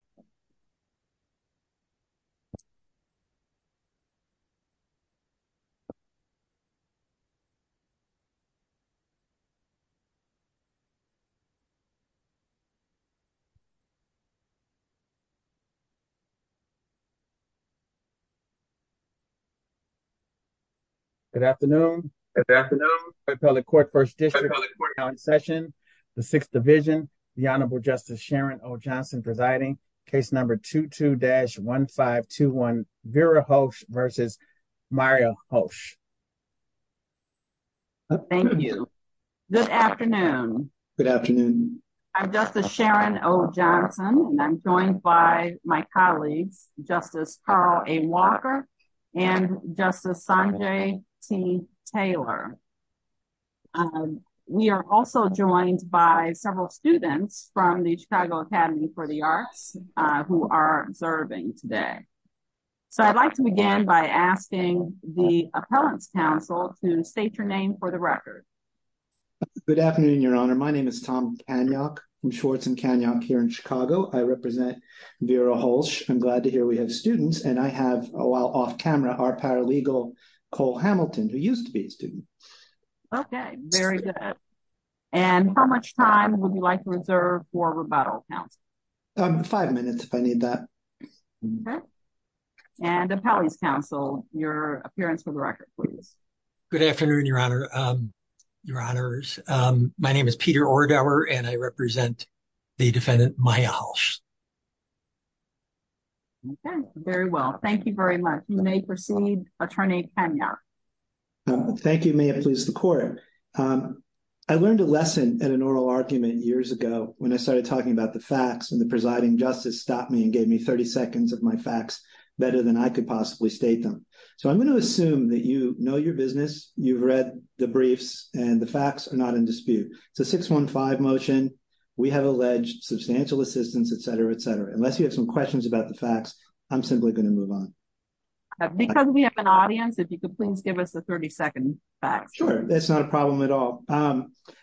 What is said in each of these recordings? Hulsh, Hulsh, Hulsh, Hulsh, Hulsh, Hulsh, Hulsh, Hulsh. Good afternoon. Good afternoon, Appellate Court First District Court of Appellant Session, the Sixth Division, the Honorable Justice Sharon O. Johnson presiding, case number 22-1521 Vera Hulsh versus Mario Hulsh. Thank you. Good afternoon. Good afternoon. I'm Justice Sharon O. Johnson and I'm joined by my colleagues, Justice Carl A. Walker and Justice Sanjay T. Taylor. We are also joined by several students from the Chicago Academy for the Arts, who are serving today. So I'd like to begin by asking the Appellants Council to state your name for the record. Good afternoon, Your Honor. My name is Tom Kaniok from Schwartz and Kaniok here in Chicago. I represent Vera Hulsh. I'm glad to hear we have students and I have, while off camera, our paralegal Cole Hamilton, who used to be a student. Okay, very good. And how much time would you like to reserve for rebuttal, counsel? Five minutes if I need that. Okay. And Appellants Council, your appearance for the record, please. Good afternoon, Your Honor. Your Honors. My name is Peter Orgauer and I represent the defendant, Maya Hulsh. Okay, very well. Thank you very much. You may proceed, Attorney Kaniok. Thank you. May it please the Court. I learned a lesson in an oral argument years ago when I started talking about the facts and the presiding justice stopped me and gave me 30 seconds of my facts, better than I could possibly state them. So I'm going to assume that you know your business, you've read the briefs, and the facts are not in dispute. It's a 615 motion. We have alleged substantial assistance, etc, etc. Unless you have some questions about the facts, I'm simply going to move on. Because we have an audience, if you could please give us the 30 second facts. Sure, that's not a problem at all.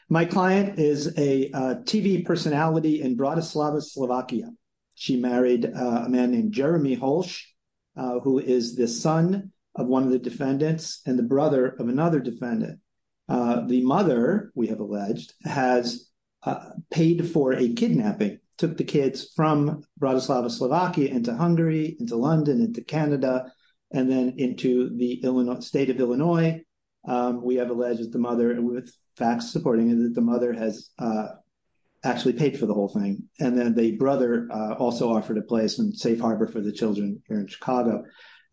My client is a TV personality in Bratislava, Slovakia. She married a man named Jeremy Hulsh, who is the son of one of the defendants and the brother of another defendant. The mother, we have alleged, has paid for a kidnapping, took the kids from Bratislava, Slovakia, into Hungary, into London, into Canada, and then into the state of Illinois. We have alleged that the mother, with facts supporting it, that the mother has actually paid for the whole thing. And then the brother also offered a place and safe harbor for the children here in Chicago.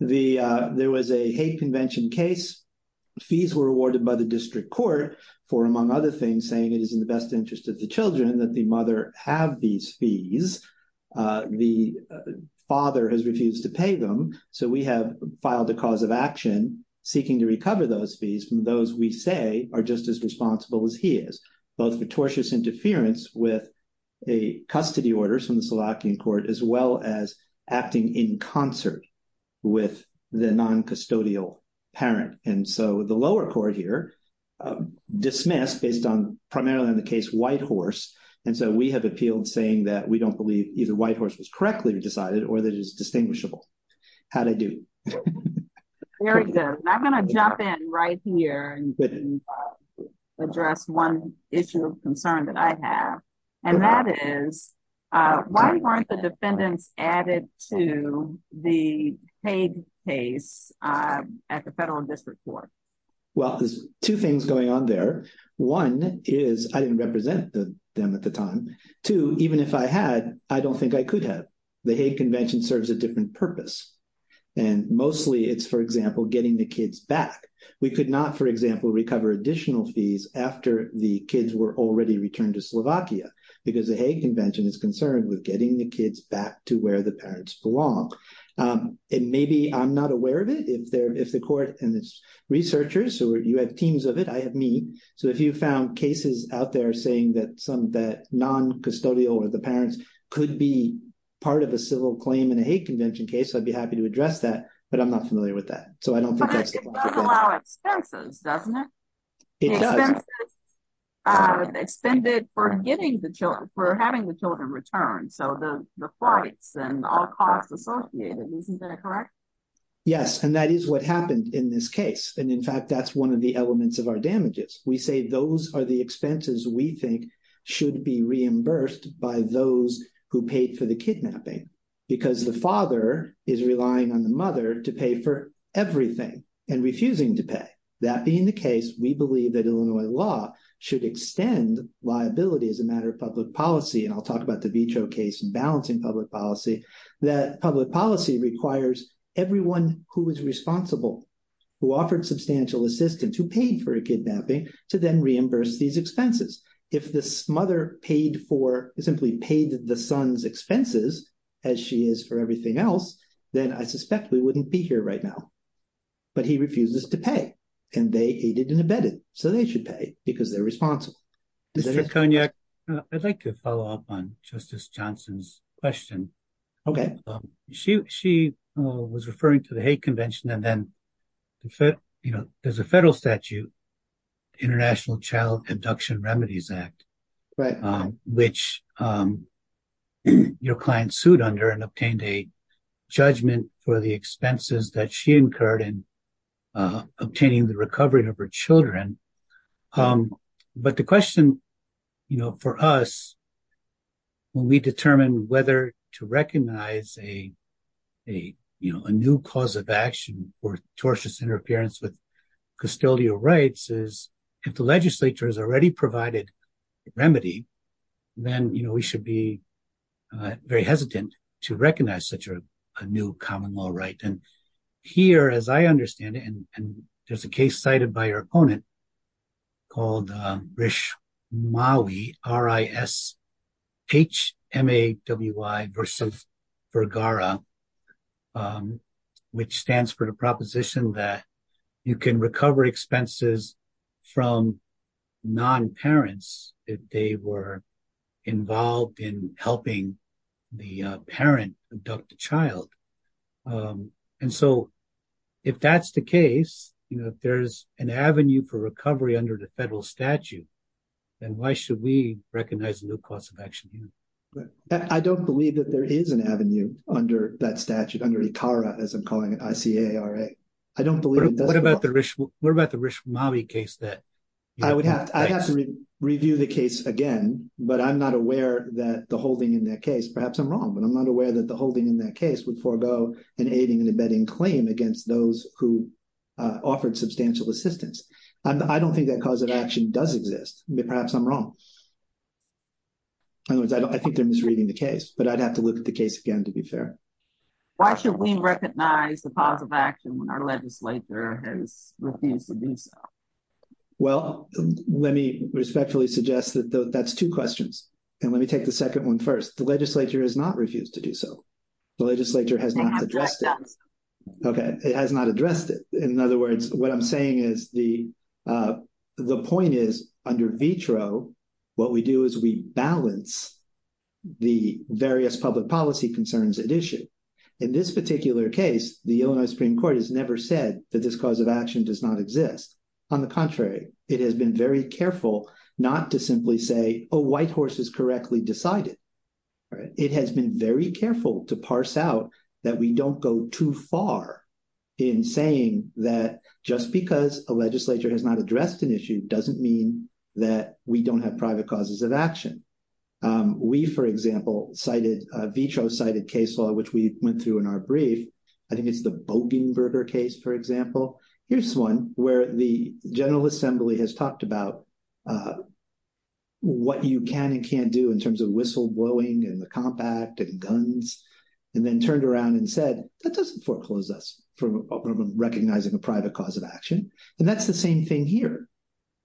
There was a hate convention case. Fees were awarded by the district court for, among other things, saying it is in the best interest of the children that the mother have these fees. The father has refused to pay them. So we have filed a cause of action seeking to recover those fees from those we say are just as responsible as he is. Both fictitious interference with a custody order from the Slovakian court, as well as acting in concert with the non-custodial parent. And so the lower court here dismissed based on primarily on the case Whitehorse. And so we have appealed saying that we don't believe either Whitehorse was correctly decided or that it is distinguishable. How did I do? Very good. I'm going to jump in right here and address one issue of concern that I have. And that is, why weren't the defendants added to the hate case at the federal district court? Well, there's two things going on there. One is I didn't represent them at the time. Two, even if I had, I don't think I could have. The hate convention serves a different purpose. And mostly it's, for example, getting the kids back. We could not, for example, recover additional fees after the kids were already returned to Slovakia. Because the hate convention is concerned with getting the kids back to where the parents belong. And maybe I'm not aware of it. If the court and its researchers or you have teams of it, I have me. So if you found cases out there saying that some that non-custodial or the parents could be part of a civil claim in a hate convention case, I'd be happy to address that. But I'm not familiar with that. But it does allow expenses, doesn't it? It does. Expenses expended for having the children returned. So the flights and all costs associated. Isn't that correct? Yes. And that is what happened in this case. And in fact, that's one of the elements of our damages. We say those are the expenses we think should be reimbursed by those who paid for the kidnapping. Because the father is relying on the mother to pay for everything and refusing to pay. That being the case, we believe that Illinois law should extend liability as a matter of public policy. And I'll talk about the case in balancing public policy, that public policy requires everyone who is responsible, who offered substantial assistance, who paid for a kidnapping to then reimburse these expenses. If this mother paid for, simply paid the son's expenses as she is for everything else, then I suspect we wouldn't be here right now. But he refuses to pay and they aided and abetted. So they should pay because they're responsible. Mr. Koniak, I'd like to follow up on Justice Johnson's question. She was referring to the hate convention and then there's a federal statute, International Child Abduction Remedies Act, which your client sued under and obtained a judgment for the expenses that she incurred in obtaining the recovery of her children. But the question for us, when we determine whether to recognize a new cause of action or tortious interference with custodial rights, is if the legislature has already provided remedy, then we should be very hesitant to recognize such a new common law right. And here, as I understand it, and there's a case cited by your opponent called Rishmawi, R-I-S-H-M-A-W-I versus Vergara, which stands for the proposition that you can recover expenses from non-parents if they were involved in helping the parent abduct the child. And so if that's the case, if there's an avenue for recovery under the federal statute, then why should we recognize a new cause of action? I don't believe that there is an avenue under that statute, under ICARA, as I'm calling it, I-C-A-R-A. I don't believe it does. What about the Rishmawi case? I would have to review the case again, but I'm not aware that the holding in that case, perhaps I'm wrong, but I'm not aware that the holding in that case would forego an aiding and abetting claim against those who offered substantial assistance. I don't think that cause of action does exist. Perhaps I'm wrong. In other words, I think they're misreading the case, but I'd have to look at the case again, to be fair. Why should we recognize the cause of action when our legislature has refused to do so? Well, let me respectfully suggest that that's two questions. And let me take the second one first. The legislature has not refused to do so. The legislature has not addressed it. Okay, it has not addressed it. In other words, what I'm saying is the point is, under vitro, what we do is we balance the various public policy concerns at issue. In this particular case, the Illinois Supreme Court has never said that this cause of action does not exist. On the contrary, it has been very careful not to simply say a white horse is correctly decided. It has been very careful to parse out that we don't go too far in saying that just because a legislature has not addressed an issue doesn't mean that we don't have private causes of action. We, for example, cited vitro cited case law, which we went through in our brief. I think it's the Bogenberger case, for example. Here's one where the General Assembly has talked about what you can and can't do in terms of whistleblowing and the compact and guns, and then turned around and said, that doesn't foreclose us from recognizing a private cause of action. And that's the same thing here.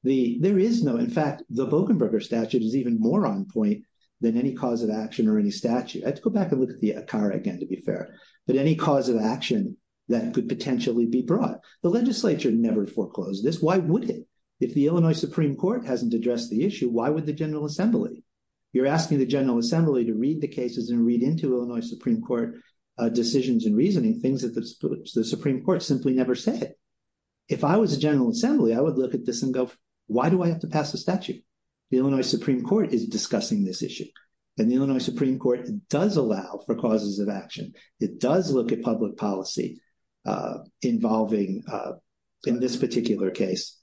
There is no, in fact, the Bogenberger statute is even more on point than any cause of action or any statute. I have to go back and look at the ACARA again, to be fair, but any cause of action that could potentially be brought. The legislature never foreclosed this. Why would it? If the Illinois Supreme Court hasn't addressed the issue, why would the General Assembly? You're asking the General Assembly to read the cases and read into Illinois Supreme Court decisions and reasoning, things that the Supreme Court simply never said. If I was the General Assembly, I would look at this and go, why do I have to pass a statute? The Illinois Supreme Court is discussing this issue. And the Illinois Supreme Court does allow for causes of action. It does look at public policy involving, in this particular case,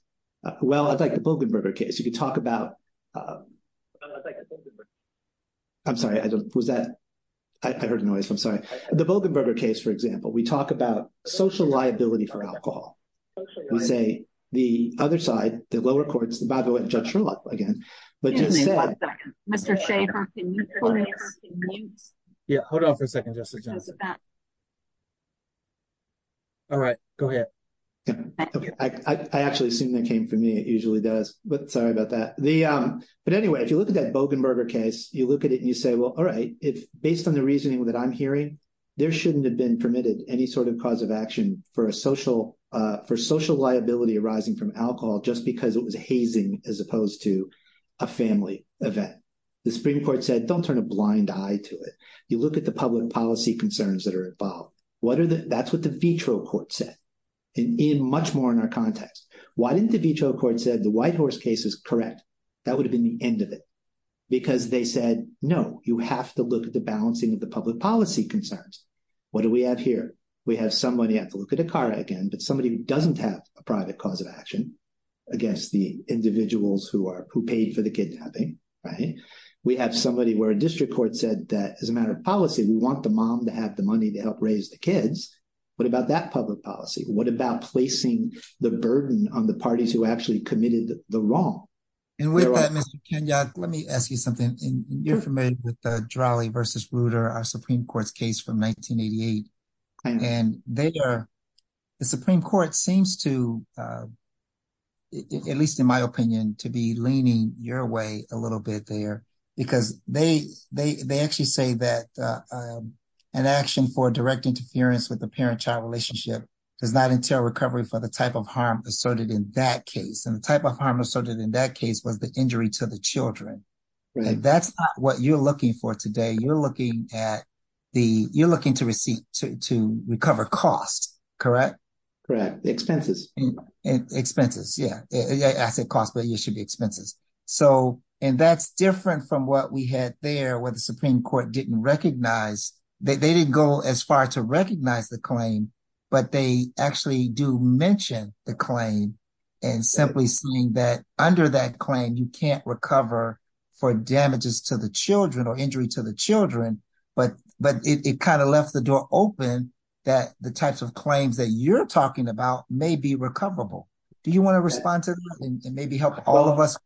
well, I'd like the Bogenberger case. You could talk about, I'm sorry, was that, I heard a noise, I'm sorry. The Bogenberger case, for example, we talk about social liability for alcohol. We say the other side, the lower courts, by the way, Judge Sherlock again, but just said. Hold on for a second, Justice Johnson. All right, go ahead. I actually assume that came from me. It usually does. But sorry about that. But anyway, if you look at that Bogenberger case, you look at it and you say, well, all right. Based on the reasoning that I'm hearing, there shouldn't have been permitted any sort of cause of action for social liability arising from alcohol just because it was hazing as opposed to a family event. The Supreme Court said, don't turn a blind eye to it. You look at the public policy concerns that are involved. That's what the vitro court said. And much more in our context. Why didn't the vitro court said the Whitehorse case is correct? That would have been the end of it. Because they said, no, you have to look at the balancing of the public policy concerns. What do we have here? We have somebody, I have to look at Akara again, but somebody who doesn't have a private cause of action against the individuals who paid for the kidnapping. We have somebody where a district court said that as a matter of policy, we want the mom to have the money to help raise the kids. What about that public policy? What about placing the burden on the parties who actually committed the wrong? And with that, let me ask you something. You're familiar with the Drolley versus Bruder, our Supreme Court's case from 1988. And they are the Supreme Court seems to. At least in my opinion, to be leaning your way a little bit there, because they, they, they actually say that an action for direct interference with the parent child relationship does not entail recovery for the type of harm asserted in that case. And the type of harm asserted in that case was the injury to the children. And that's what you're looking for today. You're looking at the you're looking to receive to recover cost. Correct. Correct. Expenses. Expenses. Yeah. I said cost, but you should be expenses. So, and that's different from what we had there with the Supreme Court didn't recognize that they didn't go as far to recognize the claim, but they actually do mention the claim. And simply seeing that under that claim, you can't recover for damages to the children or injury to the children. But, but it kind of left the door open that the types of claims that you're talking about may be recoverable. Do you want to respond to maybe help all of us?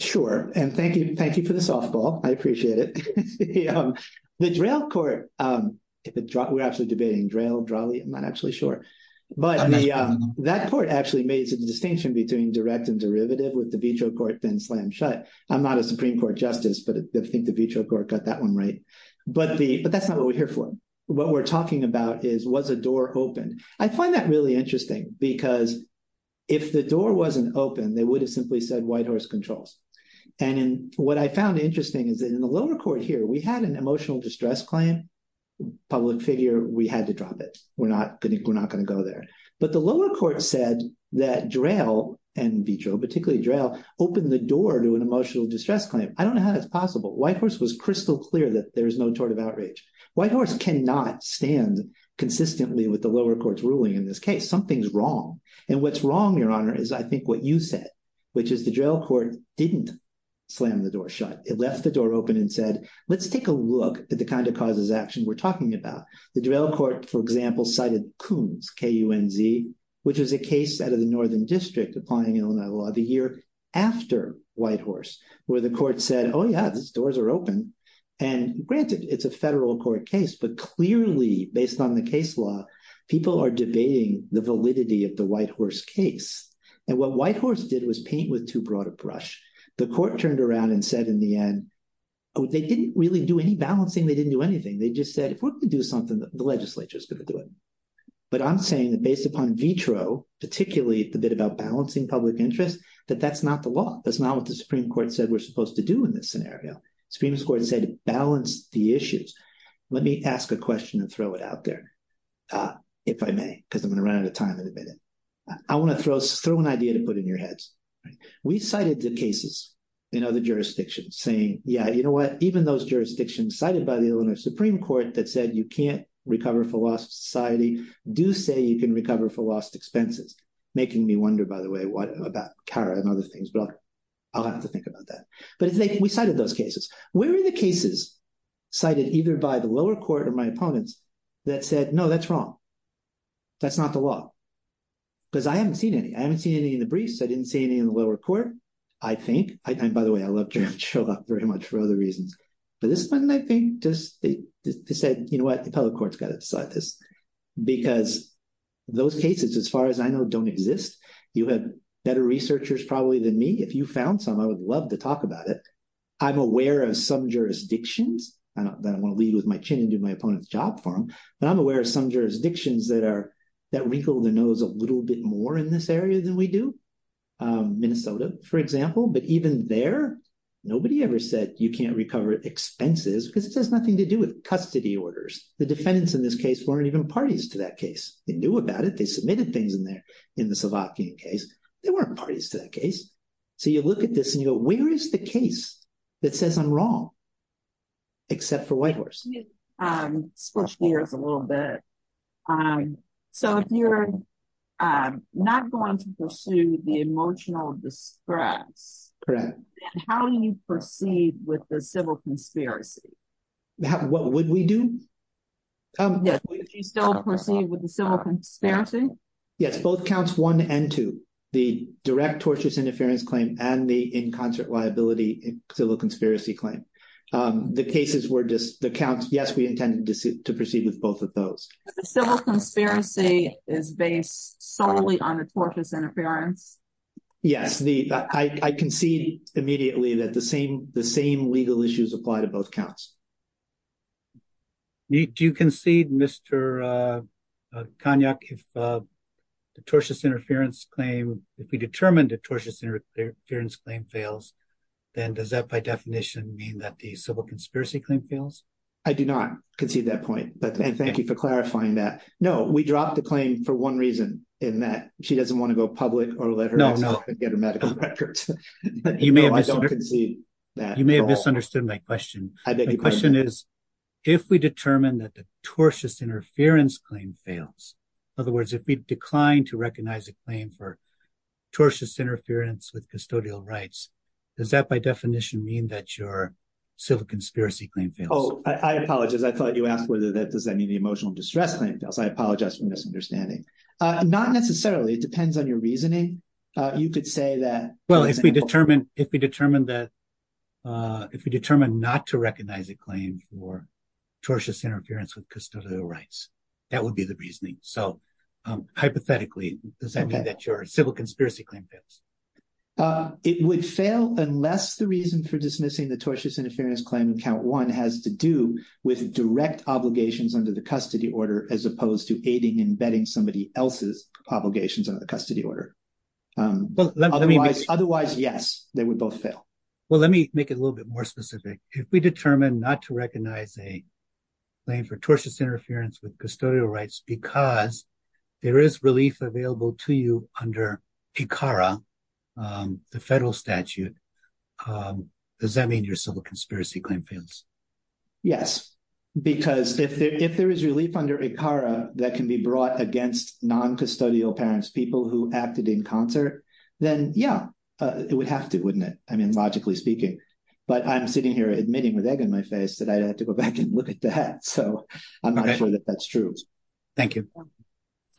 Sure, and thank you. Thank you for the softball. I appreciate it. The drill court. We're actually debating drill draw the I'm not actually sure. But that court actually made the distinction between direct and derivative with the veto court then slam shut. I'm not a Supreme Court justice, but I think the veto court got that one right. But the, but that's not what we're here for. What we're talking about is was a door open. I find that really interesting because if the door wasn't open, they would have simply said white horse controls. And what I found interesting is that in the lower court here, we had an emotional distress claim. Public figure, we had to drop it. We're not going to, we're not going to go there. But the lower court said that drill and veto particularly drill open the door to an emotional distress claim. I don't know how that's possible white horse was crystal clear that there is no tort of outrage white horse cannot stand consistently with the lower courts ruling in this case something's wrong. And what's wrong your honor is I think what you said, which is the drill court didn't slam the door shut it left the door open and said, let's take a look at the kind of causes action we're talking about the drill court for example cited coons KUNZ, which is a case out of the northern district applying Illinois law the year after white horse, where the court said, oh yeah, the doors are open. And granted it's a federal court case, but clearly based on the case law, people are debating the validity of the white horse case. And what white horse did was paint with too broad a brush. The court turned around and said in the end. Oh, they didn't really do any balancing they didn't do anything they just said if we're going to do something that the legislature is going to do it. But I'm saying that based upon vitro, particularly the bit about balancing public interest that that's not the law. That's not what the Supreme Court said we're supposed to do in this scenario. Supreme Court said balance the issues. Let me ask a question and throw it out there. If I may, because I'm going to run out of time in a minute. I want to throw an idea to put in your heads. We cited the cases in other jurisdictions saying, yeah, you know what, even those jurisdictions cited by the Illinois Supreme Court that said you can't recover for lost society do say you can recover for lost expenses. Making me wonder, by the way, what about CARA and other things, but I'll have to think about that. But we cited those cases. Where are the cases cited either by the lower court or my opponents that said, no, that's wrong. That's not the law. Because I haven't seen any. I haven't seen any in the briefs. I didn't see any in the lower court, I think. And by the way, I love to show up very much for other reasons. But this one, I think, just said, you know what, the public court's got to decide this because those cases, as far as I know, don't exist. You have better researchers probably than me. If you found some, I would love to talk about it. I'm aware of some jurisdictions. I don't want to lead with my chin and do my opponent's job for them. But I'm aware of some jurisdictions that wrinkle their nose a little bit more in this area than we do. Minnesota, for example. But even there, nobody ever said you can't recover expenses because it has nothing to do with custody orders. The defendants in this case weren't even parties to that case. They knew about it. They submitted things in there in the Slovakian case. They weren't parties to that case. So you look at this and you go, where is the case that says I'm wrong? Except for Whitehorse. Let me switch gears a little bit. So if you're not going to pursue the emotional distress, how do you proceed with the civil conspiracy? What would we do? Would you still proceed with the civil conspiracy? Yes, both counts one and two. The direct tortious interference claim and the in concert liability civil conspiracy claim. The cases were just the counts. Yes, we intended to proceed with both of those. Civil conspiracy is based solely on the tortious interference. Yes, I concede immediately that the same legal issues apply to both counts. Do you concede, Mr. Konyuk, if the tortious interference claim, if we determined a tortious interference claim fails, then does that by definition mean that the civil conspiracy claim fails? I do not concede that point. But thank you for clarifying that. No, we dropped the claim for one reason, in that she doesn't want to go public or let her get her medical records. I don't concede that. You may have misunderstood my question. My question is, if we determine that the tortious interference claim fails, in other words, if we decline to recognize a claim for tortious interference with custodial rights, does that by definition mean that your civil conspiracy claim fails? Oh, I apologize. I thought you asked whether that does that mean the emotional distress claim fails. I apologize for misunderstanding. Not necessarily. It depends on your reasoning. You could say that. Well, if we determine if we determine that if we determine not to recognize a claim for tortious interference with custodial rights, that would be the reasoning. So hypothetically, does that mean that your civil conspiracy claim fails? It would fail unless the reason for dismissing the tortious interference claim in count one has to do with direct obligations under the custody order, as opposed to aiding and abetting somebody else's obligations under the custody order. Otherwise, yes, they would both fail. Well, let me make it a little bit more specific. If we determine not to recognize a claim for tortious interference with custodial rights because there is relief available to you under ICARA, the federal statute, does that mean your civil conspiracy claim fails? Yes, because if there is relief under ICARA that can be brought against non-custodial parents, people who acted in concert, then yeah, it would have to, wouldn't it? I mean, logically speaking. But I'm sitting here admitting with egg in my face that I'd have to go back and look at that. So I'm not sure that that's true. Thank you.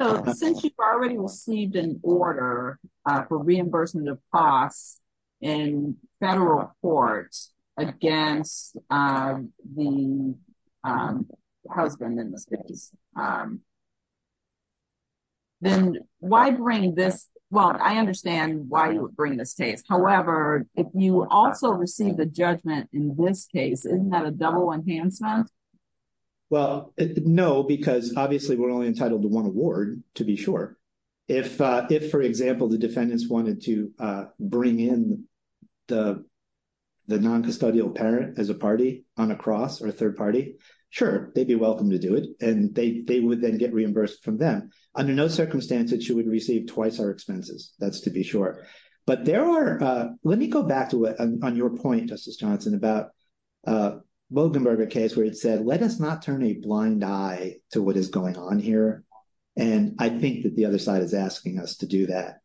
So since you've already received an order for reimbursement of costs in federal court against the husband in this case, then why bring this? Well, I understand why you would bring this case. However, if you also receive the judgment in this case, isn't that a double enhancement? Well, no, because obviously we're only entitled to one award, to be sure. If, for example, the defendants wanted to bring in the non-custodial parent as a party on a cross or a third party, sure, they'd be welcome to do it. And they would then get reimbursed from them. Under no circumstances, you would receive twice our expenses. That's to be sure. But there are, let me go back to it on your point, Justice Johnson, about the Bogenberger case where it said, let us not turn a blind eye to what is going on here. And I think that the other side is asking us to do that.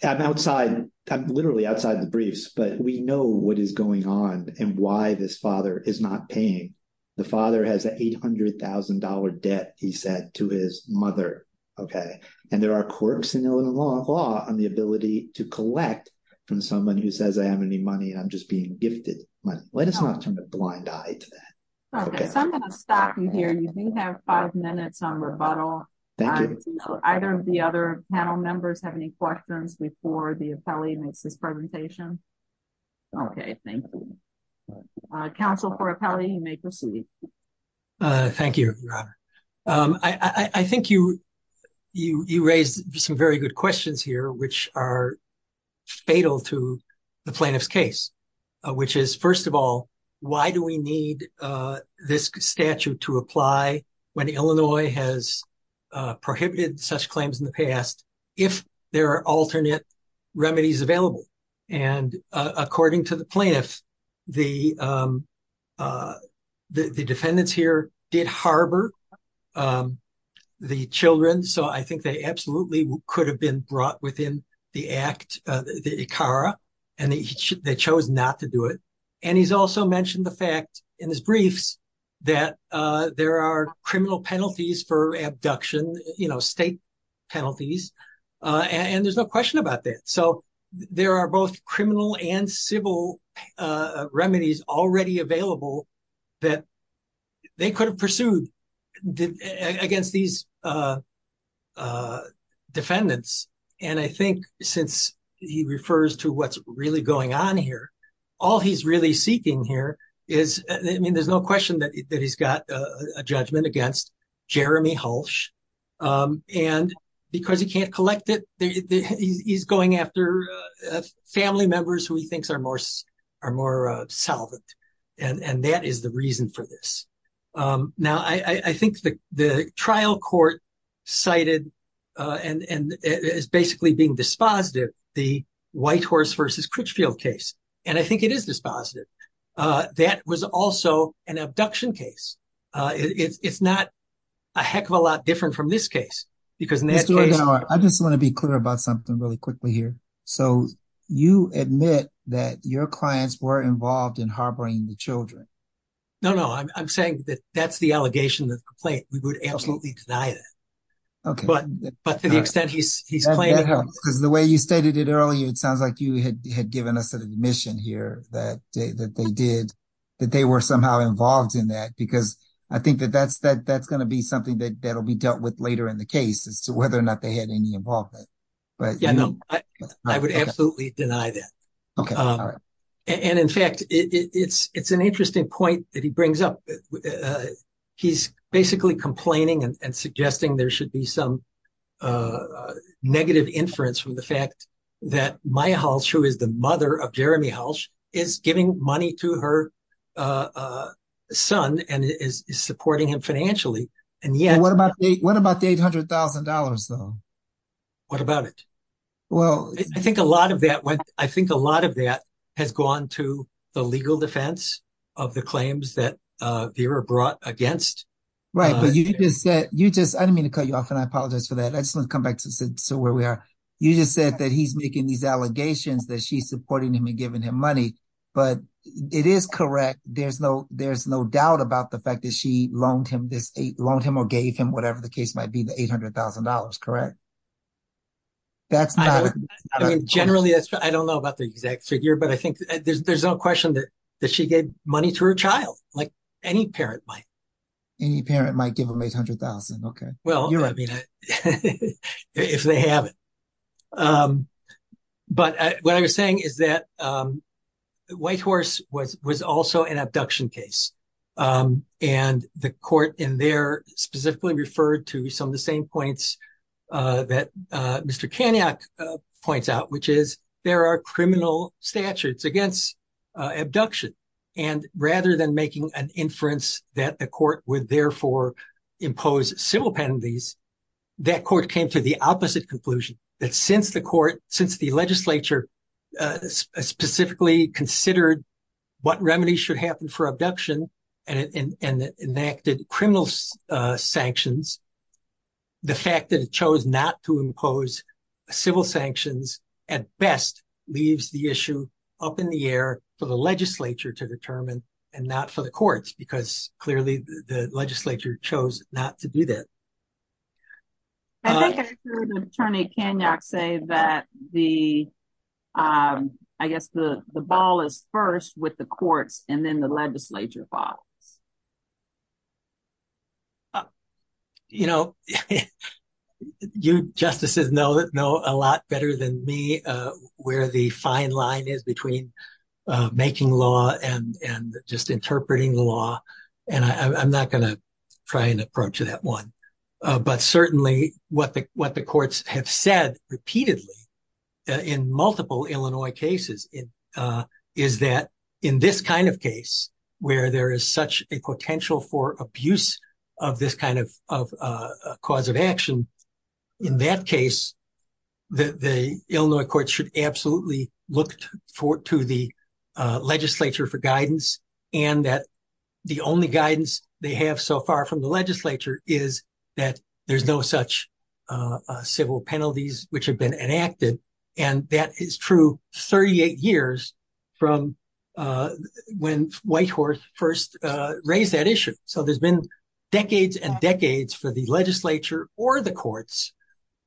I'm literally outside the briefs, but we know what is going on and why this father is not paying. The father has an $800,000 debt, he said, to his mother. And there are quirks in Illinois law on the ability to collect from someone who says, I don't have any money and I'm just being gifted money. Let us not turn a blind eye to that. I'm going to stop you here. You do have five minutes on rebuttal. Thank you. Do either of the other panel members have any questions before the appellee makes his presentation? Okay, thank you. Counsel for appellee, you may proceed. Thank you. I think you raised some very good questions here, which are fatal to the plaintiff's case, which is, first of all, why do we need this statute to apply when Illinois has prohibited such claims in the past if there are alternate remedies available? And according to the plaintiff, the defendants here did harbor the children, so I think they absolutely could have been brought within the act, the ICARA, and they chose not to do it. And he's also mentioned the fact in his briefs that there are criminal penalties for abduction, you know, state penalties. And there's no question about that. So there are both criminal and civil remedies already available that they could have pursued against these defendants. And I think since he refers to what's really going on here, all he's really seeking here is, I mean, there's no question that he's got a judgment against Jeremy Hulsh. And because he can't collect it, he's going after family members who he thinks are more solvent. And that is the reason for this. Now, I think the trial court cited and is basically being dispositive the Whitehorse v. Critchfield case. And I think it is dispositive. That was also an abduction case. It's not a heck of a lot different from this case. Mr. O'Donnell, I just want to be clear about something really quickly here. So you admit that your clients were involved in harboring the children. No, no. I'm saying that that's the allegation of the complaint. We would absolutely deny that. Okay. But to the extent he's claiming… Because the way you stated it earlier, it sounds like you had given us an admission here that they were somehow involved in that. Because I think that that's going to be something that will be dealt with later in the case as to whether or not they had any involvement. Yeah, no. I would absolutely deny that. Okay. And in fact, it's an interesting point that he brings up. He's basically complaining and suggesting there should be some negative inference from the fact that Maya Halsh, who is the mother of Jeremy Halsh, is giving money to her son and is supporting him financially. And yet… What about the $800,000, though? What about it? I think a lot of that has gone to the legal defense of the claims that Vera brought against… Right, but you just said… I didn't mean to cut you off, and I apologize for that. I just want to come back to where we are. You just said that he's making these allegations that she's supporting him and giving him money. But it is correct. There's no doubt about the fact that she loaned him or gave him, whatever the case might be, the $800,000. Correct? That's not… Generally, I don't know about the exact figure, but I think there's no question that she gave money to her child, like any parent might. Any parent might give them $800,000, okay. Well, I mean, if they haven't. But what I was saying is that Whitehorse was also an abduction case. And the court in there specifically referred to some of the same points that Mr. Kaniak points out, which is there are criminal statutes against abduction. And rather than making an inference that the court would therefore impose civil penalties, that court came to the opposite conclusion. That since the court, since the legislature specifically considered what remedies should happen for abduction and enacted criminal sanctions, the fact that it chose not to impose civil sanctions at best leaves the issue up in the air for the legislature to determine and not for the courts, because clearly the legislature chose not to do that. I think I heard Attorney Kaniak say that the, I guess the ball is first with the courts and then the legislature falls. You know, you justices know a lot better than me where the fine line is between making law and just interpreting the law, and I'm not going to try and approach that one. But certainly what the courts have said repeatedly in multiple Illinois cases is that in this kind of case where there is such a potential for abuse of this kind of cause of action, in that case, the Illinois courts should absolutely look to the legislature for guidance and that the only guidance they have so far from the legislature is that there's no such civil penalties which have been enacted. And that is true 38 years from when Whitehorse first raised that issue. So there's been decades and decades for the legislature or the courts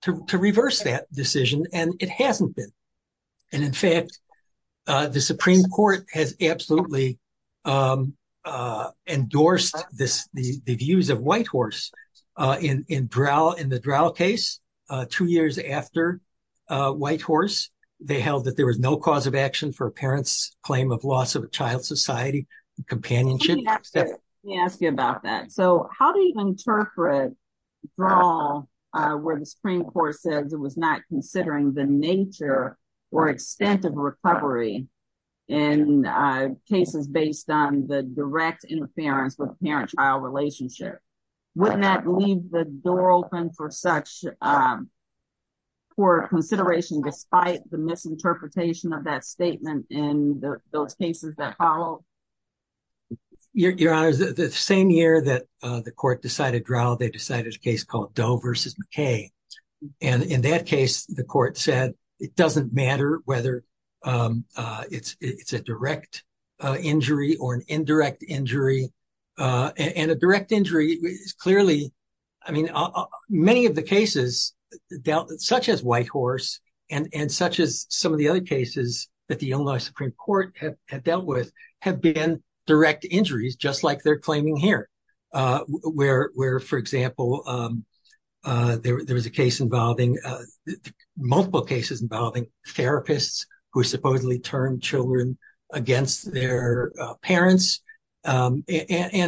to reverse that decision, and it hasn't been. And in fact, the Supreme Court has absolutely endorsed the views of Whitehorse in the Drow case. Two years after Whitehorse, they held that there was no cause of action for a parent's claim of loss of a child's society and companionship. Let me ask you about that. So how do you interpret Drow where the Supreme Court says it was not considering the nature or extent of recovery in cases based on the direct interference with parent-child relationship? Wouldn't that leave the door open for such poor consideration despite the misinterpretation of that statement in those cases that follow? Your Honor, the same year that the court decided Drow, they decided a case called Doe versus McKay. And in that case, the court said it doesn't matter whether it's a direct injury or an indirect injury. And a direct injury is clearly, I mean, many of the cases such as Whitehorse and such as some of the other cases that the Illinois Supreme Court had dealt with have been direct injuries, just like they're claiming here. Where, for example, there was a case involving multiple cases involving therapists who supposedly turned children against their parents and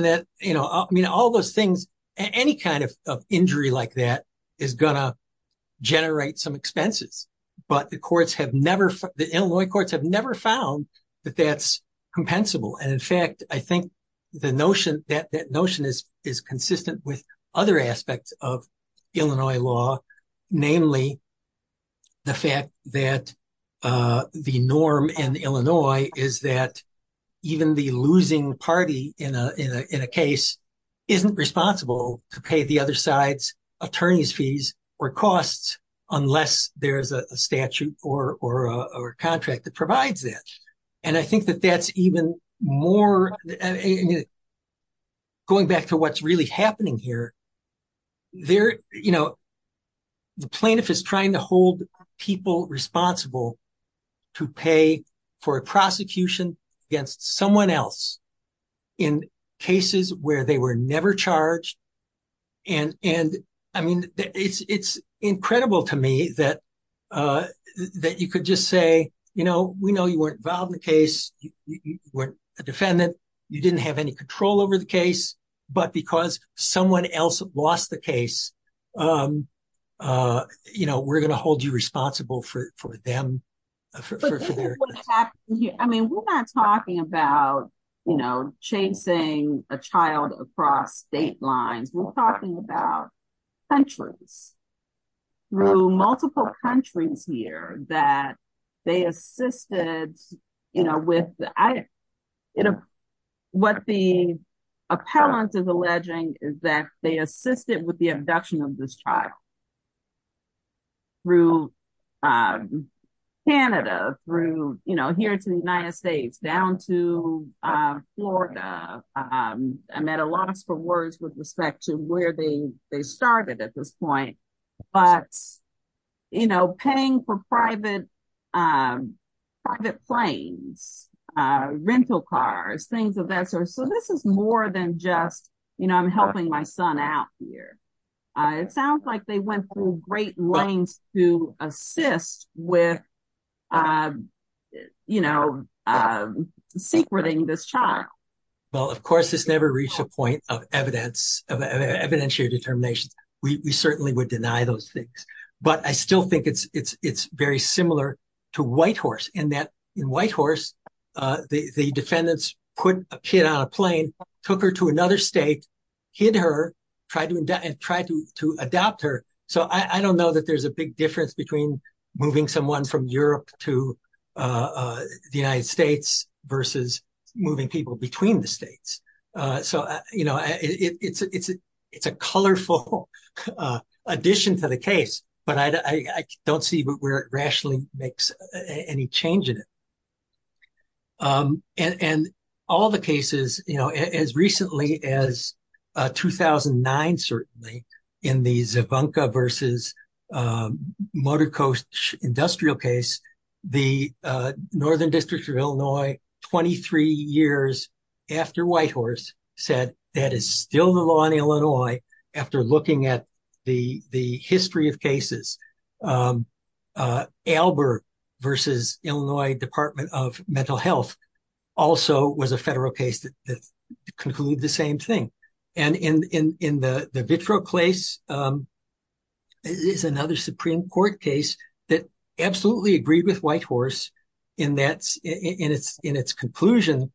that, you know, I mean, all those things, any kind of injury like that is gonna generate some expenses. But the Illinois courts have never found that that's compensable. And in fact, I think that notion is consistent with other aspects of Illinois law, namely the fact that the norm in Illinois is that even the losing party in a case isn't responsible to pay the other side's attorney's fees or costs unless there's a direct injury. There's no statute or contract that provides that. And I think that that's even more, going back to what's really happening here, there, you know, the plaintiff is trying to hold people responsible to pay for a prosecution against someone else in cases where they were never charged. And I mean, it's incredible to me that you could just say, you know, we know you weren't involved in the case, you weren't a defendant, you didn't have any control over the case, but because someone else lost the case, you know, we're going to hold you responsible for them. I mean, we're not talking about, you know, chasing a child across state lines, we're talking about countries, through multiple countries here that they assisted, you know, with, you know, what the appellant is alleging is that they assisted with the abduction of this child. Through Canada, through, you know, here to the United States, down to Florida. I'm at a loss for words with respect to where they started at this point. But, you know, paying for private, private planes, rental cars, things of that sort. So this is more than just, you know, I'm helping my son out here. It sounds like they went through great lengths to assist with, you know, secreting this child. Well, of course, this never reached a point of evidence, of evidentiary determinations. We certainly would deny those things. But I still think it's very similar to Whitehorse, in that in Whitehorse, the defendants put a kid on a plane, took her to another state, hid her, tried to adopt her. So I don't know that there's a big difference between moving someone from Europe to the United States versus moving people between the states. So, you know, it's a colorful addition to the case, but I don't see where it rationally makes any change in it. And all the cases, you know, as recently as 2009, certainly, in the Zabunka versus Motorcoast Industrial case, the Northern District of Illinois, 23 years after Whitehorse, said that is still the law in Illinois, after looking at the history of cases. Albert versus Illinois Department of Mental Health also was a federal case that concluded the same thing. And in the Vitro case is another Supreme Court case that absolutely agreed with Whitehorse in its conclusion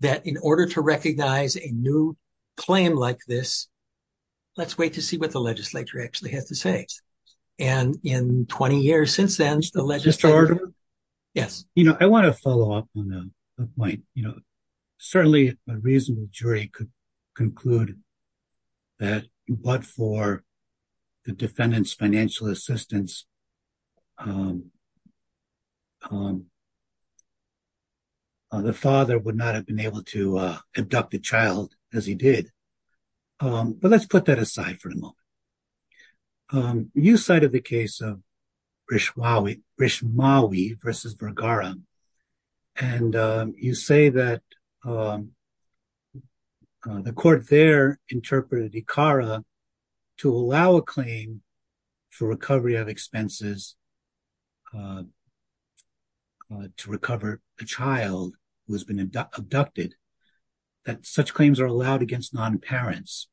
that in order to recognize a new claim like this, let's wait to see what the legislature actually has to say. And in 20 years since then, the legislature... Mr. Ardo? Yes. You know, I want to follow up on the point, you know, certainly a reasonable jury could conclude that but for the defendant's financial assistance, the father would not have been able to abduct the child as he did. But let's put that aside for a moment. You cited the case of Brishmawi versus Vergara. And you say that the court there interpreted ICARA to allow a claim for recovery of expenses to recover a child who has been abducted, that such claims are allowed against non-parents.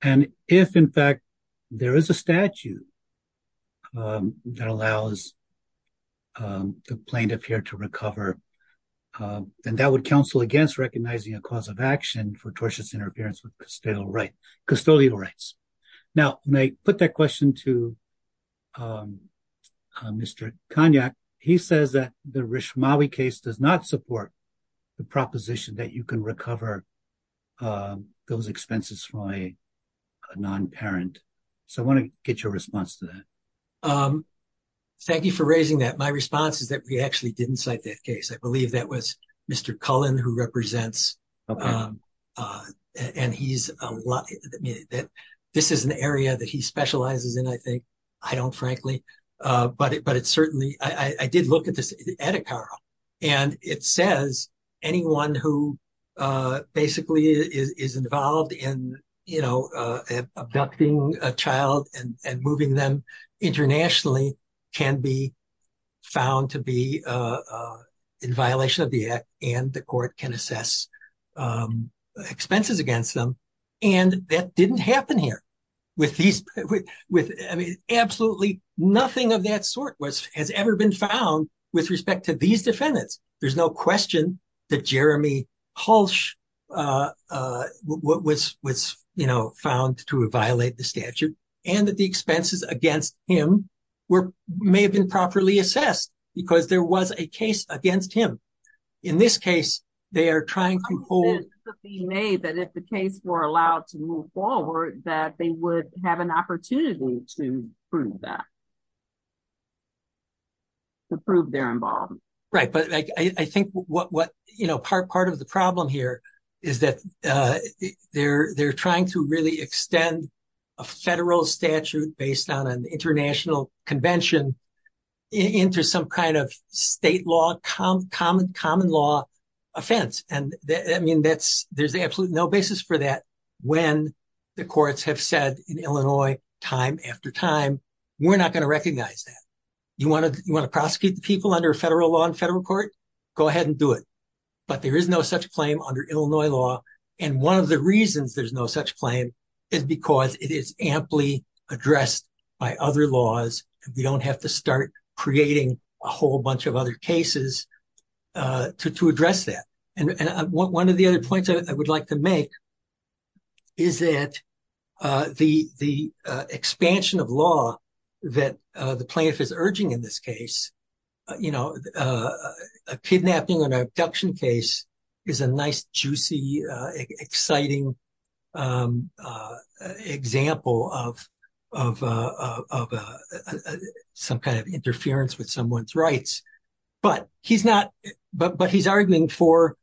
And if in fact, there is a statute that allows the plaintiff here to recover, then that would counsel against recognizing a cause of action for tortious interference with custodial rights. Now, when I put that question to Mr. Konyak, he says that the Brishmawi case does not support the proposition that you can recover those expenses from a non-parent. So I want to get your response to that. Thank you for raising that. My response is that we actually didn't cite that case. I believe that was Mr. Cullen who represents. This is an area that he specializes in, I think. But it's certainly, I did look at this at ICARA, and it says anyone who basically is involved in, you know, abducting a child and moving them internationally can be found to be in violation of the act and the court can assess expenses against them. And that didn't happen here. Absolutely nothing of that sort has ever been found with respect to these defendants. There's no question that Jeremy Hulsh was, you know, found to violate the statute and that the expenses against him may have been properly assessed because there was a case against him. In this case, they are trying to hold. It could be made that if the case were allowed to move forward, that they would have an opportunity to prove that. To prove their involvement. Right, but I think what, you know, part of the problem here is that they're trying to really extend a federal statute based on an international convention into some kind of state law, common law offense. And I mean, there's absolutely no basis for that when the courts have said in Illinois time after time, we're not going to recognize that. You want to prosecute the people under federal law and federal court? Go ahead and do it. But there is no such claim under Illinois law. And one of the reasons there's no such claim is because it is amply addressed by other laws. We don't have to start creating a whole bunch of other cases to address that. And one of the other points I would like to make. Is it the the expansion of law that the plaintiff is urging in this case? You know, a kidnapping and abduction case is a nice, juicy, exciting example of some kind of interference with someone's rights. But he's not. But he's arguing for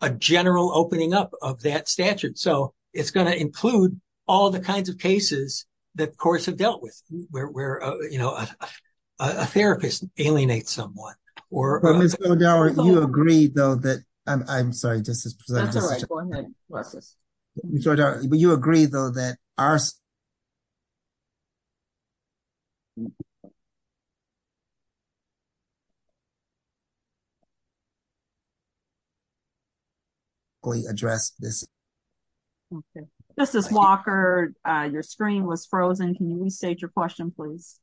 a general opening up of that statute. So it's going to include all the kinds of cases that courts have dealt with where, you know, a therapist alienates someone. Or you agree, though, that I'm sorry. But you agree, though, that are. We address this. This is Walker. Your screen was frozen. Can you restate your question, please?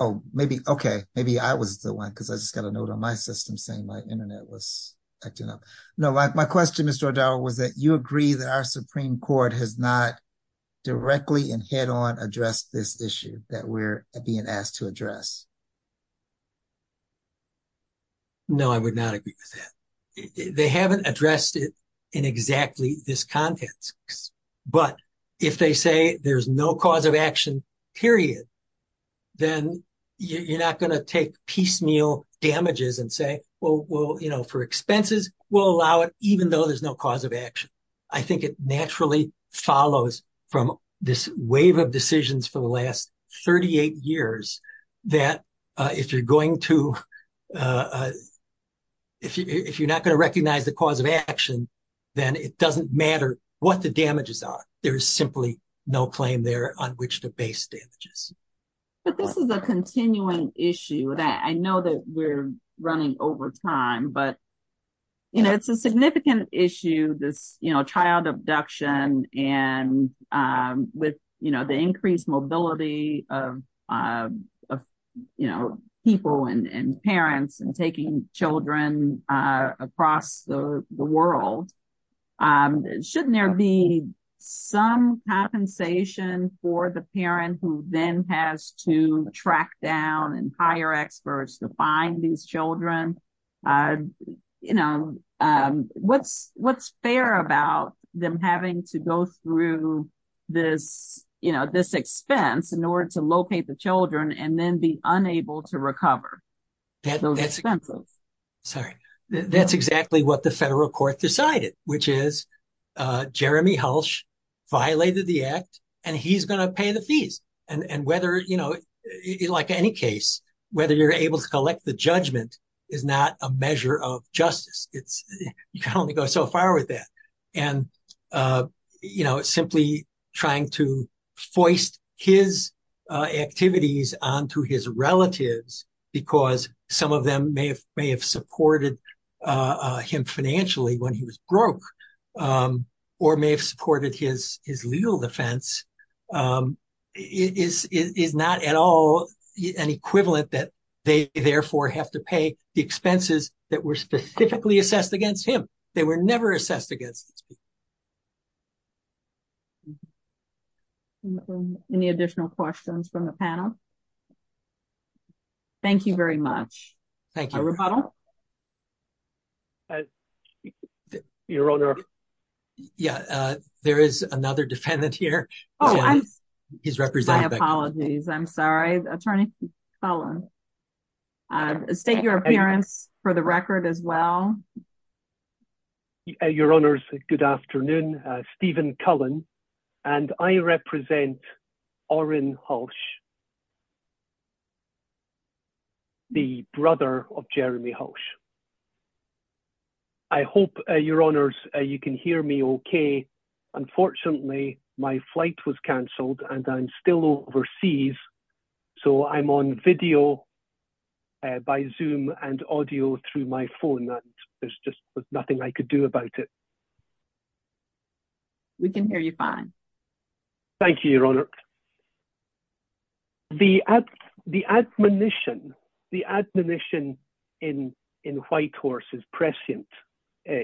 Oh, maybe. OK. Maybe I was the one because I just got a note on my system saying my Internet was acting up. No, my question, Mr. O'Donnell, was that you agree that our Supreme Court has not directly and head on address this issue that we're being asked to address. No, I would not agree with that. They haven't addressed it in exactly this context. But if they say there's no cause of action, period, then you're not going to take piecemeal damages and say, well, you know, for expenses, we'll allow it, even though there's no cause of action. I think it naturally follows from this wave of decisions for the last 38 years that if you're going to. If you're not going to recognize the cause of action, then it doesn't matter what the damages are. There is simply no claim there on which the base damages. But this is a continuing issue that I know that we're running over time, but it's a significant issue. This child abduction and with the increased mobility of people and parents and taking children across the world. Shouldn't there be some compensation for the parent who then has to track down and hire experts to find these children? You know, what's what's fair about them having to go through this, you know, this expense in order to locate the children and then be unable to recover? Sorry, that's exactly what the federal court decided, which is Jeremy Hulsh violated the act and he's going to pay the fees. And whether, you know, like any case, whether you're able to collect the judgment is not a measure of justice. It's you can only go so far with that. And, you know, simply trying to foist his activities on to his relatives because some of them may have may have supported him financially when he was broke or may have supported his legal defense. Is is not at all an equivalent that they therefore have to pay the expenses that were specifically assessed against him. They were never assessed against. Any additional questions from the panel? Thank you very much. Thank you. Your Honor. Yeah, there is another defendant here. Oh, he's representing apologies. I'm sorry, Attorney. State your appearance for the record as well. Your Honor's. Good afternoon, Stephen Cullen, and I represent our in Hulsh. The brother of Jeremy Hulsh. I hope your honor's you can hear me. Okay. Unfortunately, my flight was canceled and I'm still overseas. So I'm on video by zoom and audio through my phone. There's just nothing I could do about it. We can hear you fine. Thank you, Your Honor. The the admonition, the admonition in in Whitehorse is prescient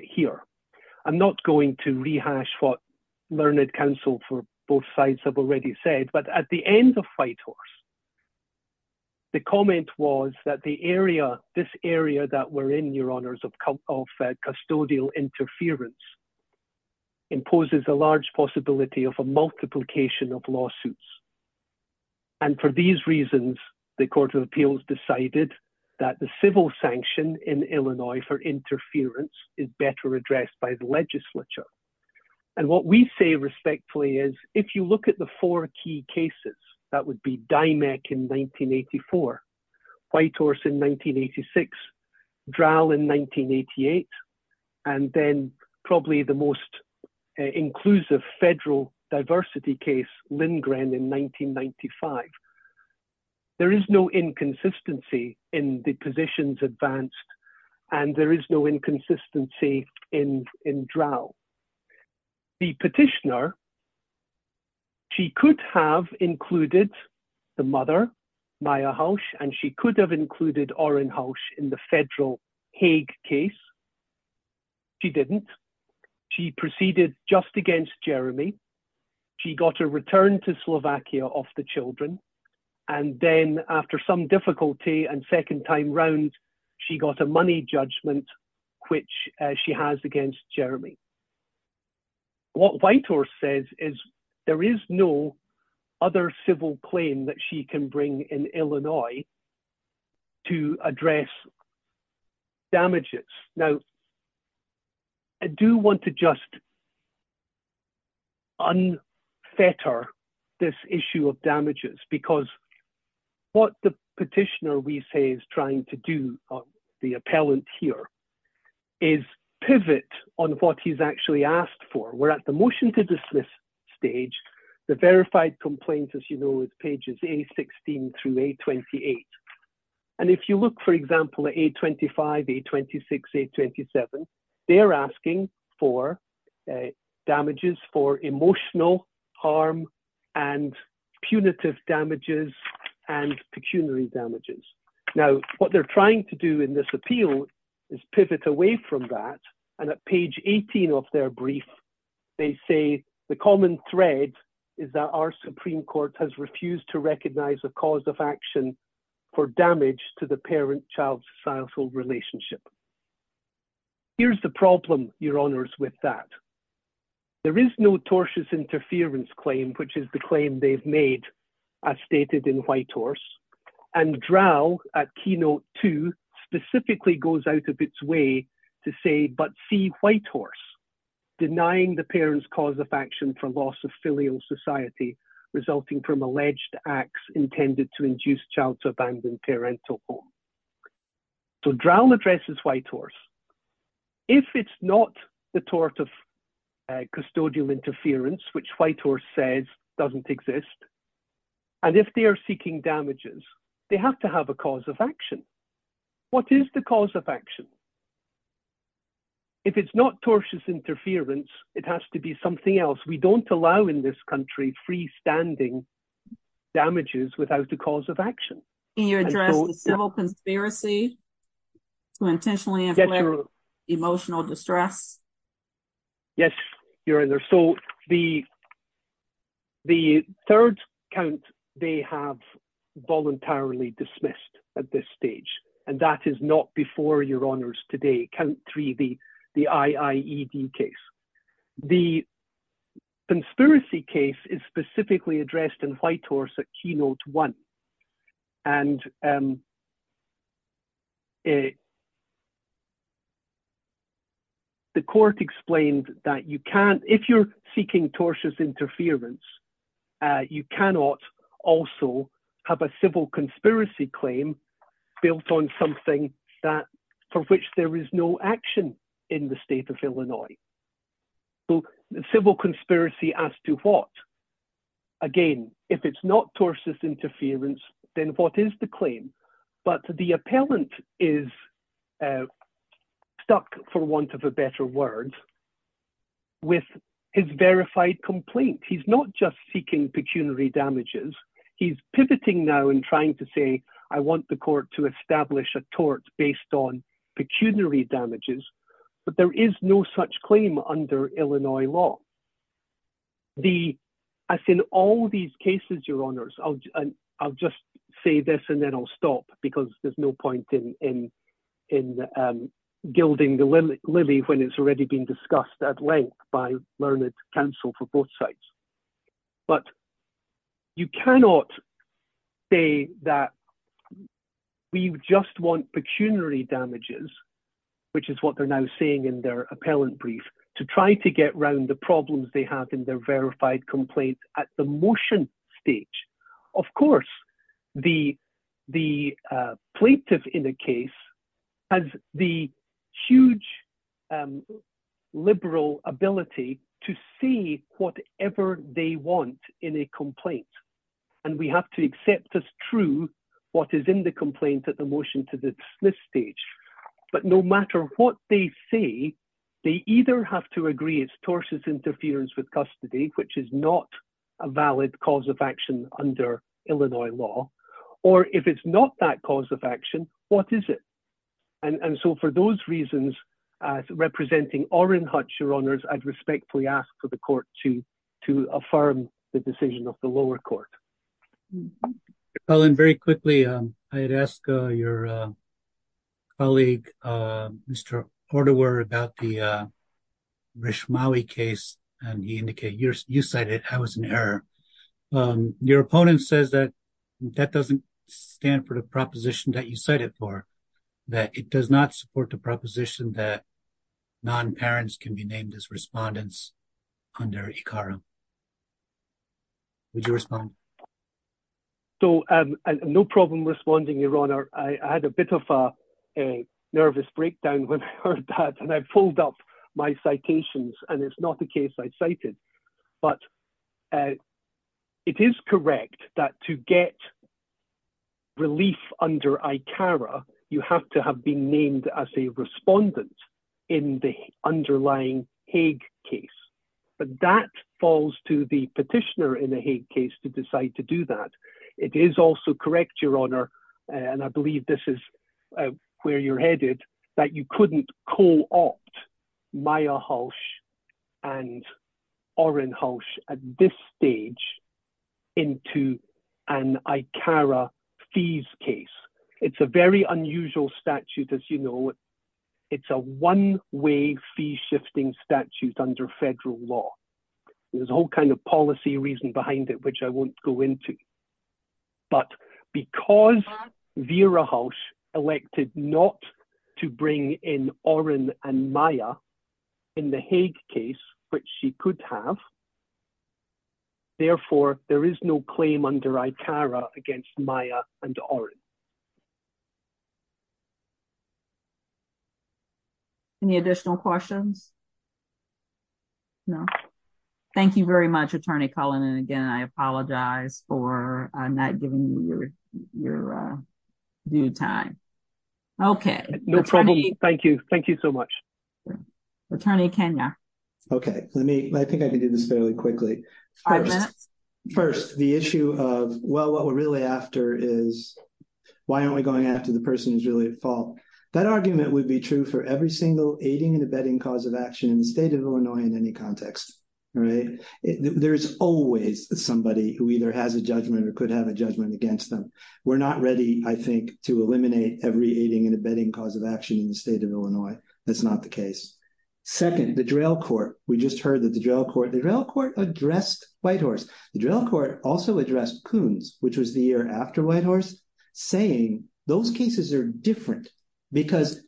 here. I'm not going to rehash what learned counsel for both sides have already said, but at the end of Whitehorse. The comment was that the area, this area that we're in your honors of custodial interference. Imposes a large possibility of a multiplication of lawsuits. And for these reasons, the Court of Appeals decided that the civil sanction in Illinois for interference is better addressed by the legislature. And what we say respectfully is if you look at the four key cases, that would be Dimec in 1984, Whitehorse in 1986, Drowell in 1988, and then probably the most inclusive federal diversity case, Lindgren in 1995. There is no inconsistency in the positions advanced and there is no inconsistency in in Drowell. The petitioner. She could have included the mother, Maya Hulsh, and she could have included Orrin Hulsh in the federal Hague case. She didn't. She proceeded just against Jeremy. She got a return to Slovakia of the children. And then after some difficulty and second time round, she got a money judgment, which she has against Jeremy. What Whitehorse says is there is no other civil claim that she can bring in Illinois. To address. Damages now. I do want to just. Unfetter this issue of damages, because what the petitioner, we say, is trying to do the appellant here is pivot on what he's actually asked for. We're at the motion to dismiss stage. The verified complaints, as you know, is pages A16 through A28. And if you look, for example, at A25, A26, A27, they are asking for damages for emotional harm and punitive damages and pecuniary damages. Now, what they're trying to do in this appeal is pivot away from that. And at page 18 of their brief, they say the common thread is that our Supreme Court has refused to recognize the cause of action for damage to the parent-child societal relationship. Here's the problem, Your Honours, with that. There is no tortious interference claim, which is the claim they've made, as stated in Whitehorse. And Drow, at keynote two, specifically goes out of its way to say, but see Whitehorse, denying the parent's cause of action for loss of filial society, resulting from alleged acts intended to induce child to abandon parental home. So Drow addresses Whitehorse. If it's not the tort of custodial interference, which Whitehorse says doesn't exist, and if they are seeking damages, they have to have a cause of action. What is the cause of action? If it's not tortious interference, it has to be something else. We don't allow in this country freestanding damages without a cause of action. Can you address the civil conspiracy to intentionally inflict emotional distress? Yes, Your Honours. So the third count they have voluntarily dismissed at this stage, and that is not before Your Honours today, count three, the IIED case. The conspiracy case is specifically addressed in Whitehorse at keynote one. And the court explained that you can't, if you're seeking tortious interference, you cannot also have a civil conspiracy claim built on something for which there is no action in the state of Illinois. So civil conspiracy as to what? Again, if it's not tortious interference, then what is the claim? But the appellant is stuck, for want of a better word, with his verified complaint. He's not just seeking pecuniary damages. He's pivoting now and trying to say, I want the court to establish a tort based on pecuniary damages. But there is no such claim under Illinois law. As in all these cases, Your Honours, I'll just say this and then I'll stop because there's no point in gilding the lily when it's already been discussed at length by learned counsel for both sides. But you cannot say that we just want pecuniary damages, which is what they're now saying in their appellant brief, to try to get round the problems they have in their verified complaint at the motion stage. Of course, the plaintiff in the case has the huge liberal ability to say whatever they want in a complaint. And we have to accept as true what is in the complaint at the motion to dismiss stage. But no matter what they say, they either have to agree it's tortious interference with custody, which is not a valid cause of action under Illinois law. Or if it's not that cause of action, what is it? And so for those reasons, representing Orrin Hutch, Your Honours, I'd respectfully ask for the court to affirm the decision of the lower court. Colin, very quickly, I'd ask your colleague, Mr. Ortewer, about the Rishmawi case, and he indicated you cited it as an error. Your opponent says that that doesn't stand for the proposition that you cited for, that it does not support the proposition that non-parents can be named as respondents under ICARA. Would you respond? So, no problem responding, Your Honour. I had a bit of a nervous breakdown when I heard that, and I pulled up my citations, and it's not the case I cited. But it is correct that to get relief under ICARA, you have to have been named as a respondent in the underlying Hague case, but that falls to the petitioner in the Hague case to decide to do that. It is also correct, Your Honour, and I believe this is where you're headed, that you couldn't co-opt Maya Hulsh and Orrin Hulsh at this stage into an ICARA fees case. It's a very unusual statute, as you know. It's a one-way fee-shifting statute under federal law. There's a whole kind of policy reason behind it, which I won't go into. But because Vera Hulsh elected not to bring in Orrin and Maya in the Hague case, which she could have, therefore there is no claim under ICARA against Maya and Orrin. Any additional questions? No. Thank you very much, Attorney Cullen. And again, I apologize for not giving you your due time. No problem. Thank you. Thank you so much. Attorney Kenya. Okay. I think I can do this fairly quickly. Five minutes. First, the issue of, well, what we're really after is, why aren't we going after the person who's really at fault? That argument would be true for every single aiding and abetting cause of action in the state of Illinois in any context. There's always somebody who either has a judgment or could have a judgment against them. We're not ready, I think, to eliminate every aiding and abetting cause of action in the state of Illinois. That's not the case. Second, the Drill Court. We just heard that the Drill Court addressed Whitehorse. The Drill Court also addressed Coons, which was the year after Whitehorse, saying those cases are different because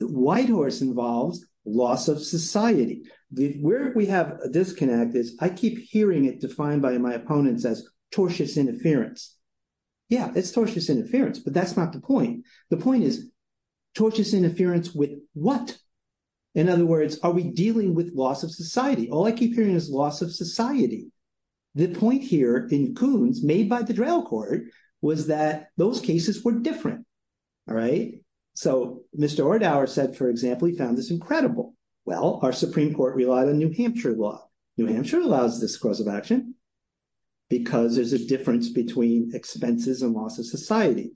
Whitehorse involves loss of society. Where we have a disconnect is, I keep hearing it defined by my opponents as tortious interference. Yeah, it's tortious interference, but that's not the point. The point is, tortious interference with what? In other words, are we dealing with loss of society? All I keep hearing is loss of society. The point here in Coons, made by the Drill Court, was that those cases were different. All right? So Mr. Ordower said, for example, he found this incredible. Well, our Supreme Court relied on New Hampshire law. New Hampshire allows this cause of action because there's a difference between expenses and loss of society.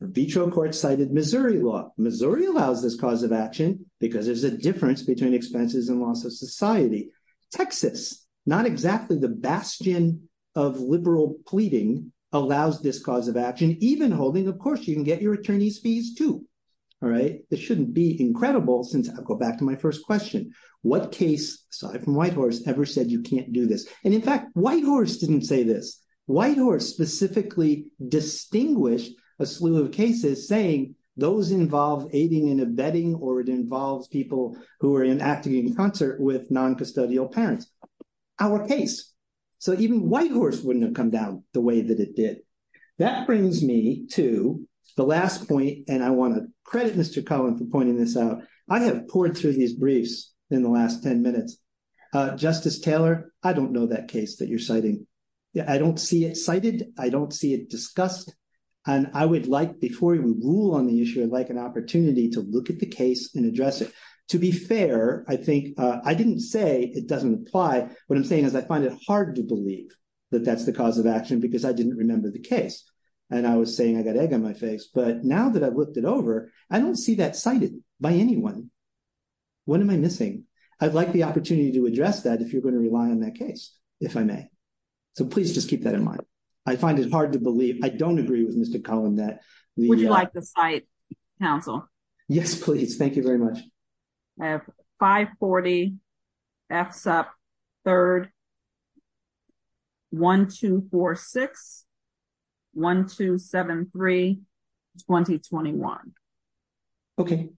Vitro Court cited Missouri law. Missouri allows this cause of action because there's a difference between expenses and loss of society. Texas, not exactly the bastion of liberal pleading, allows this cause of action. Even holding, of course, you can get your attorney's fees, too. All right? This shouldn't be incredible, since I'll go back to my first question. What case, aside from Whitehorse, ever said you can't do this? And in fact, Whitehorse didn't say this. Whitehorse specifically distinguished a slew of cases saying those involve aiding and abetting, or it involves people who are in acting in concert with noncustodial parents. Our case. So even Whitehorse wouldn't have come down the way that it did. That brings me to the last point, and I want to credit Mr. Cullen for pointing this out. I have poured through these briefs in the last 10 minutes. Justice Taylor, I don't know that case that you're citing. I don't see it cited. I don't see it discussed. And I would like, before we rule on the issue, I'd like an opportunity to look at the case and address it. To be fair, I think I didn't say it doesn't apply. What I'm saying is I find it hard to believe that that's the cause of action because I didn't remember the case. And I was saying I got egg on my face. But now that I've looked it over, I don't see that cited by anyone. What am I missing? And I'd like an opportunity to address that if you're going to rely on that case, if I may. So please just keep that in mind. I find it hard to believe. I don't agree with Mr. Cullen that the... Would you like to cite, counsel? Yes, please. Thank you very much. I have 540 FSUP 3rd 1246-1273-2021. Okay.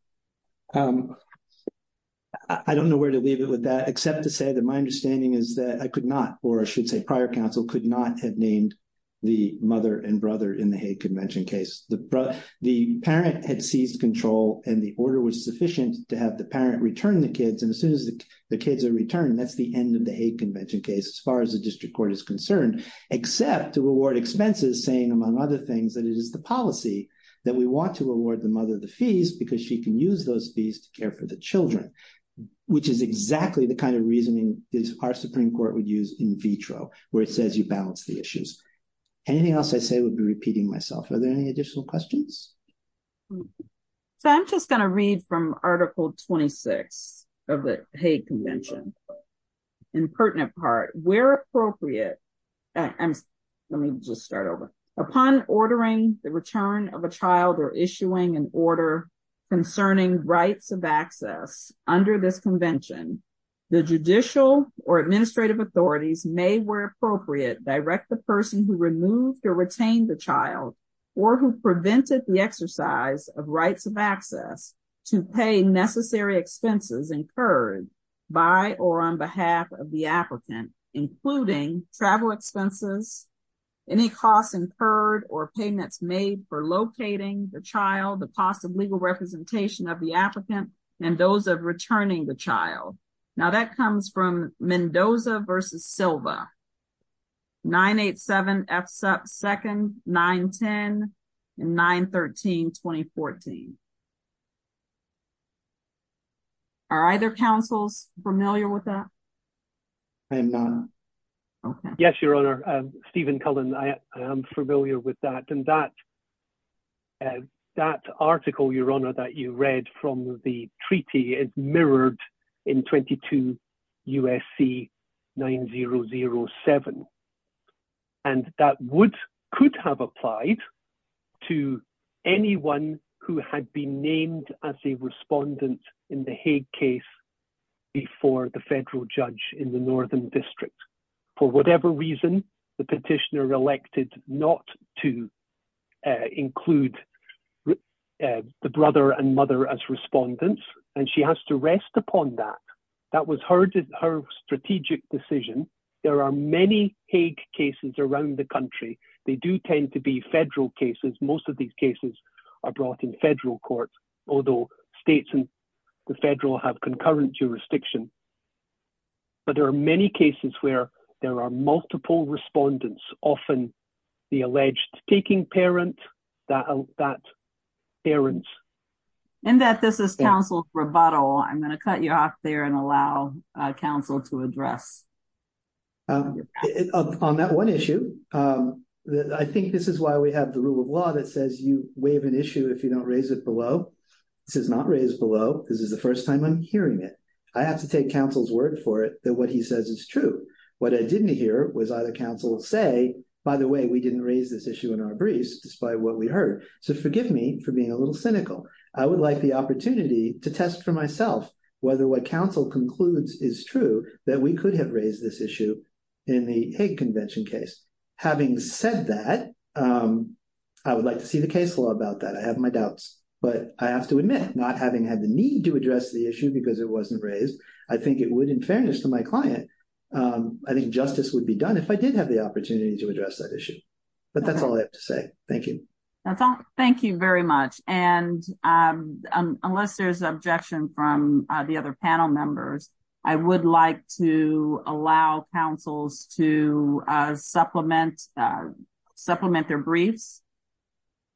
I don't know where to leave it with that, except to say that my understanding is that I could not, or I should say prior counsel, could not have named the mother and brother in the hate convention case. The parent had seized control and the order was sufficient to have the parent return the kids. And as soon as the kids are returned, that's the end of the hate convention case, as far as the district court is concerned. Except to award expenses, saying, among other things, that it is the policy that we want to award the mother the fees because she can use those fees to care for the children. Which is exactly the kind of reasoning our Supreme Court would use in vitro, where it says you balance the issues. Anything else I say would be repeating myself. Are there any additional questions? So, I'm just going to read from Article 26 of the hate convention. In pertinent part, where appropriate. Let me just start over. Upon ordering the return of a child or issuing an order concerning rights of access under this convention. The judicial or administrative authorities may, where appropriate, direct the person who removed or retained the child or who prevented the exercise of rights of access to pay necessary expenses incurred by or on behalf of the applicant, including travel expenses. Any costs incurred or payments made for locating the child, the possible legal representation of the applicant, and those of returning the child. Now, that comes from Mendoza versus Silva. 987F2-910-913-2014. Are either councils familiar with that? Yes, Your Honour. Stephen Cullen, I am familiar with that. And that article, Your Honour, that you read from the treaty is mirrored in 22 USC 9007. And that would, could have applied to anyone who had been named as a respondent in the Hague case before the federal judge in the Northern District. For whatever reason, the petitioner elected not to include the brother and mother as respondents, and she has to rest upon that. That was her strategic decision. There are many Hague cases around the country. They do tend to be federal cases. Most of these cases are brought in federal courts, although states and the federal have concurrent jurisdiction. But there are many cases where there are multiple respondents, often the alleged taking parent, that parents. In that this is counsel's rebuttal, I'm going to cut you off there and allow counsel to address. On that one issue, I think this is why we have the rule of law that says you waive an issue if you don't raise it below. This is not raised below. This is the first time I'm hearing it. I have to take counsel's word for it that what he says is true. What I didn't hear was either counsel say, by the way, we didn't raise this issue in our briefs, despite what we heard. So forgive me for being a little cynical. I would like the opportunity to test for myself whether what counsel concludes is true, that we could have raised this issue in the Hague Convention case. Having said that, I would like to see the case law about that. I have my doubts, but I have to admit, not having had the need to address the issue because it wasn't raised, I think it would, in fairness to my client, I think justice would be done if I did have the opportunity to address that issue. But that's all I have to say. Thank you. Thank you very much. And unless there's objection from the other panel members, I would like to allow counsels to supplement their briefs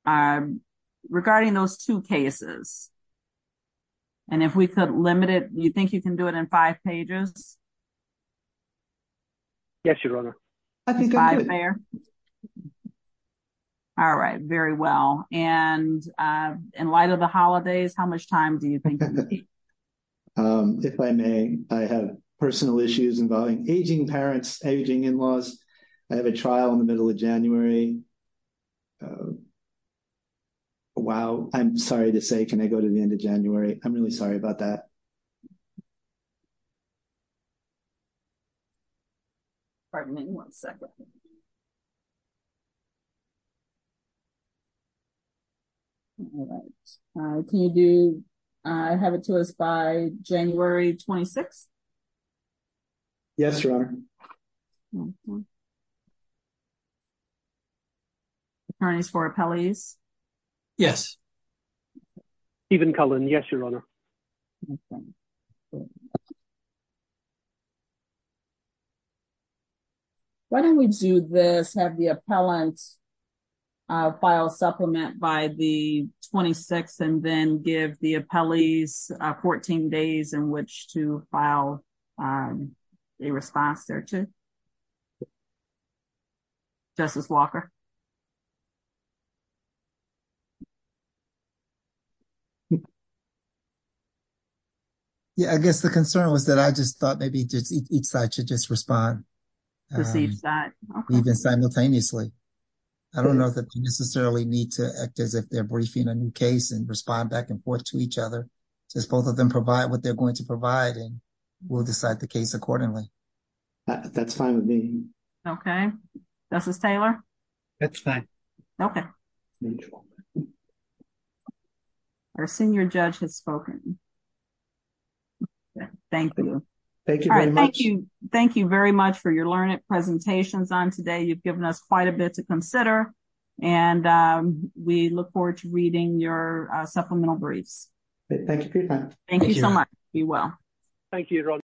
regarding those two cases. And if we could limit it, do you think you can do it in five pages? Yes, Your Honor. Five there? All right. Very well. And in light of the holidays, how much time do you think you have? If I may, I have personal issues involving aging parents, aging in-laws. I have a trial in the middle of January. Wow. I'm sorry to say, can I go to the end of January? I'm really sorry about that. Pardon me one second. All right. Can you have it to us by January 26th? Yes, Your Honor. Attorneys for appellees? Yes. Stephen Cullen, yes, Your Honor. Thank you. Why don't we do this, have the appellant file supplement by the 26th and then give the appellees 14 days in which to file a response there to? Justice Walker? Yeah, I guess the concern was that I just thought maybe each side should just respond, even simultaneously. I don't know that you necessarily need to act as if they're briefing a new case and respond back and forth to each other. Just both of them provide what they're going to provide and we'll decide the case accordingly. That's fine with me. Okay. Justice Taylor? That's fine. Okay. Our senior judge has spoken. Thank you. Thank you very much. Thank you very much for your learned presentations on today. You've given us quite a bit to consider and we look forward to reading your supplemental briefs. Thank you for your time. Thank you, Your Honor.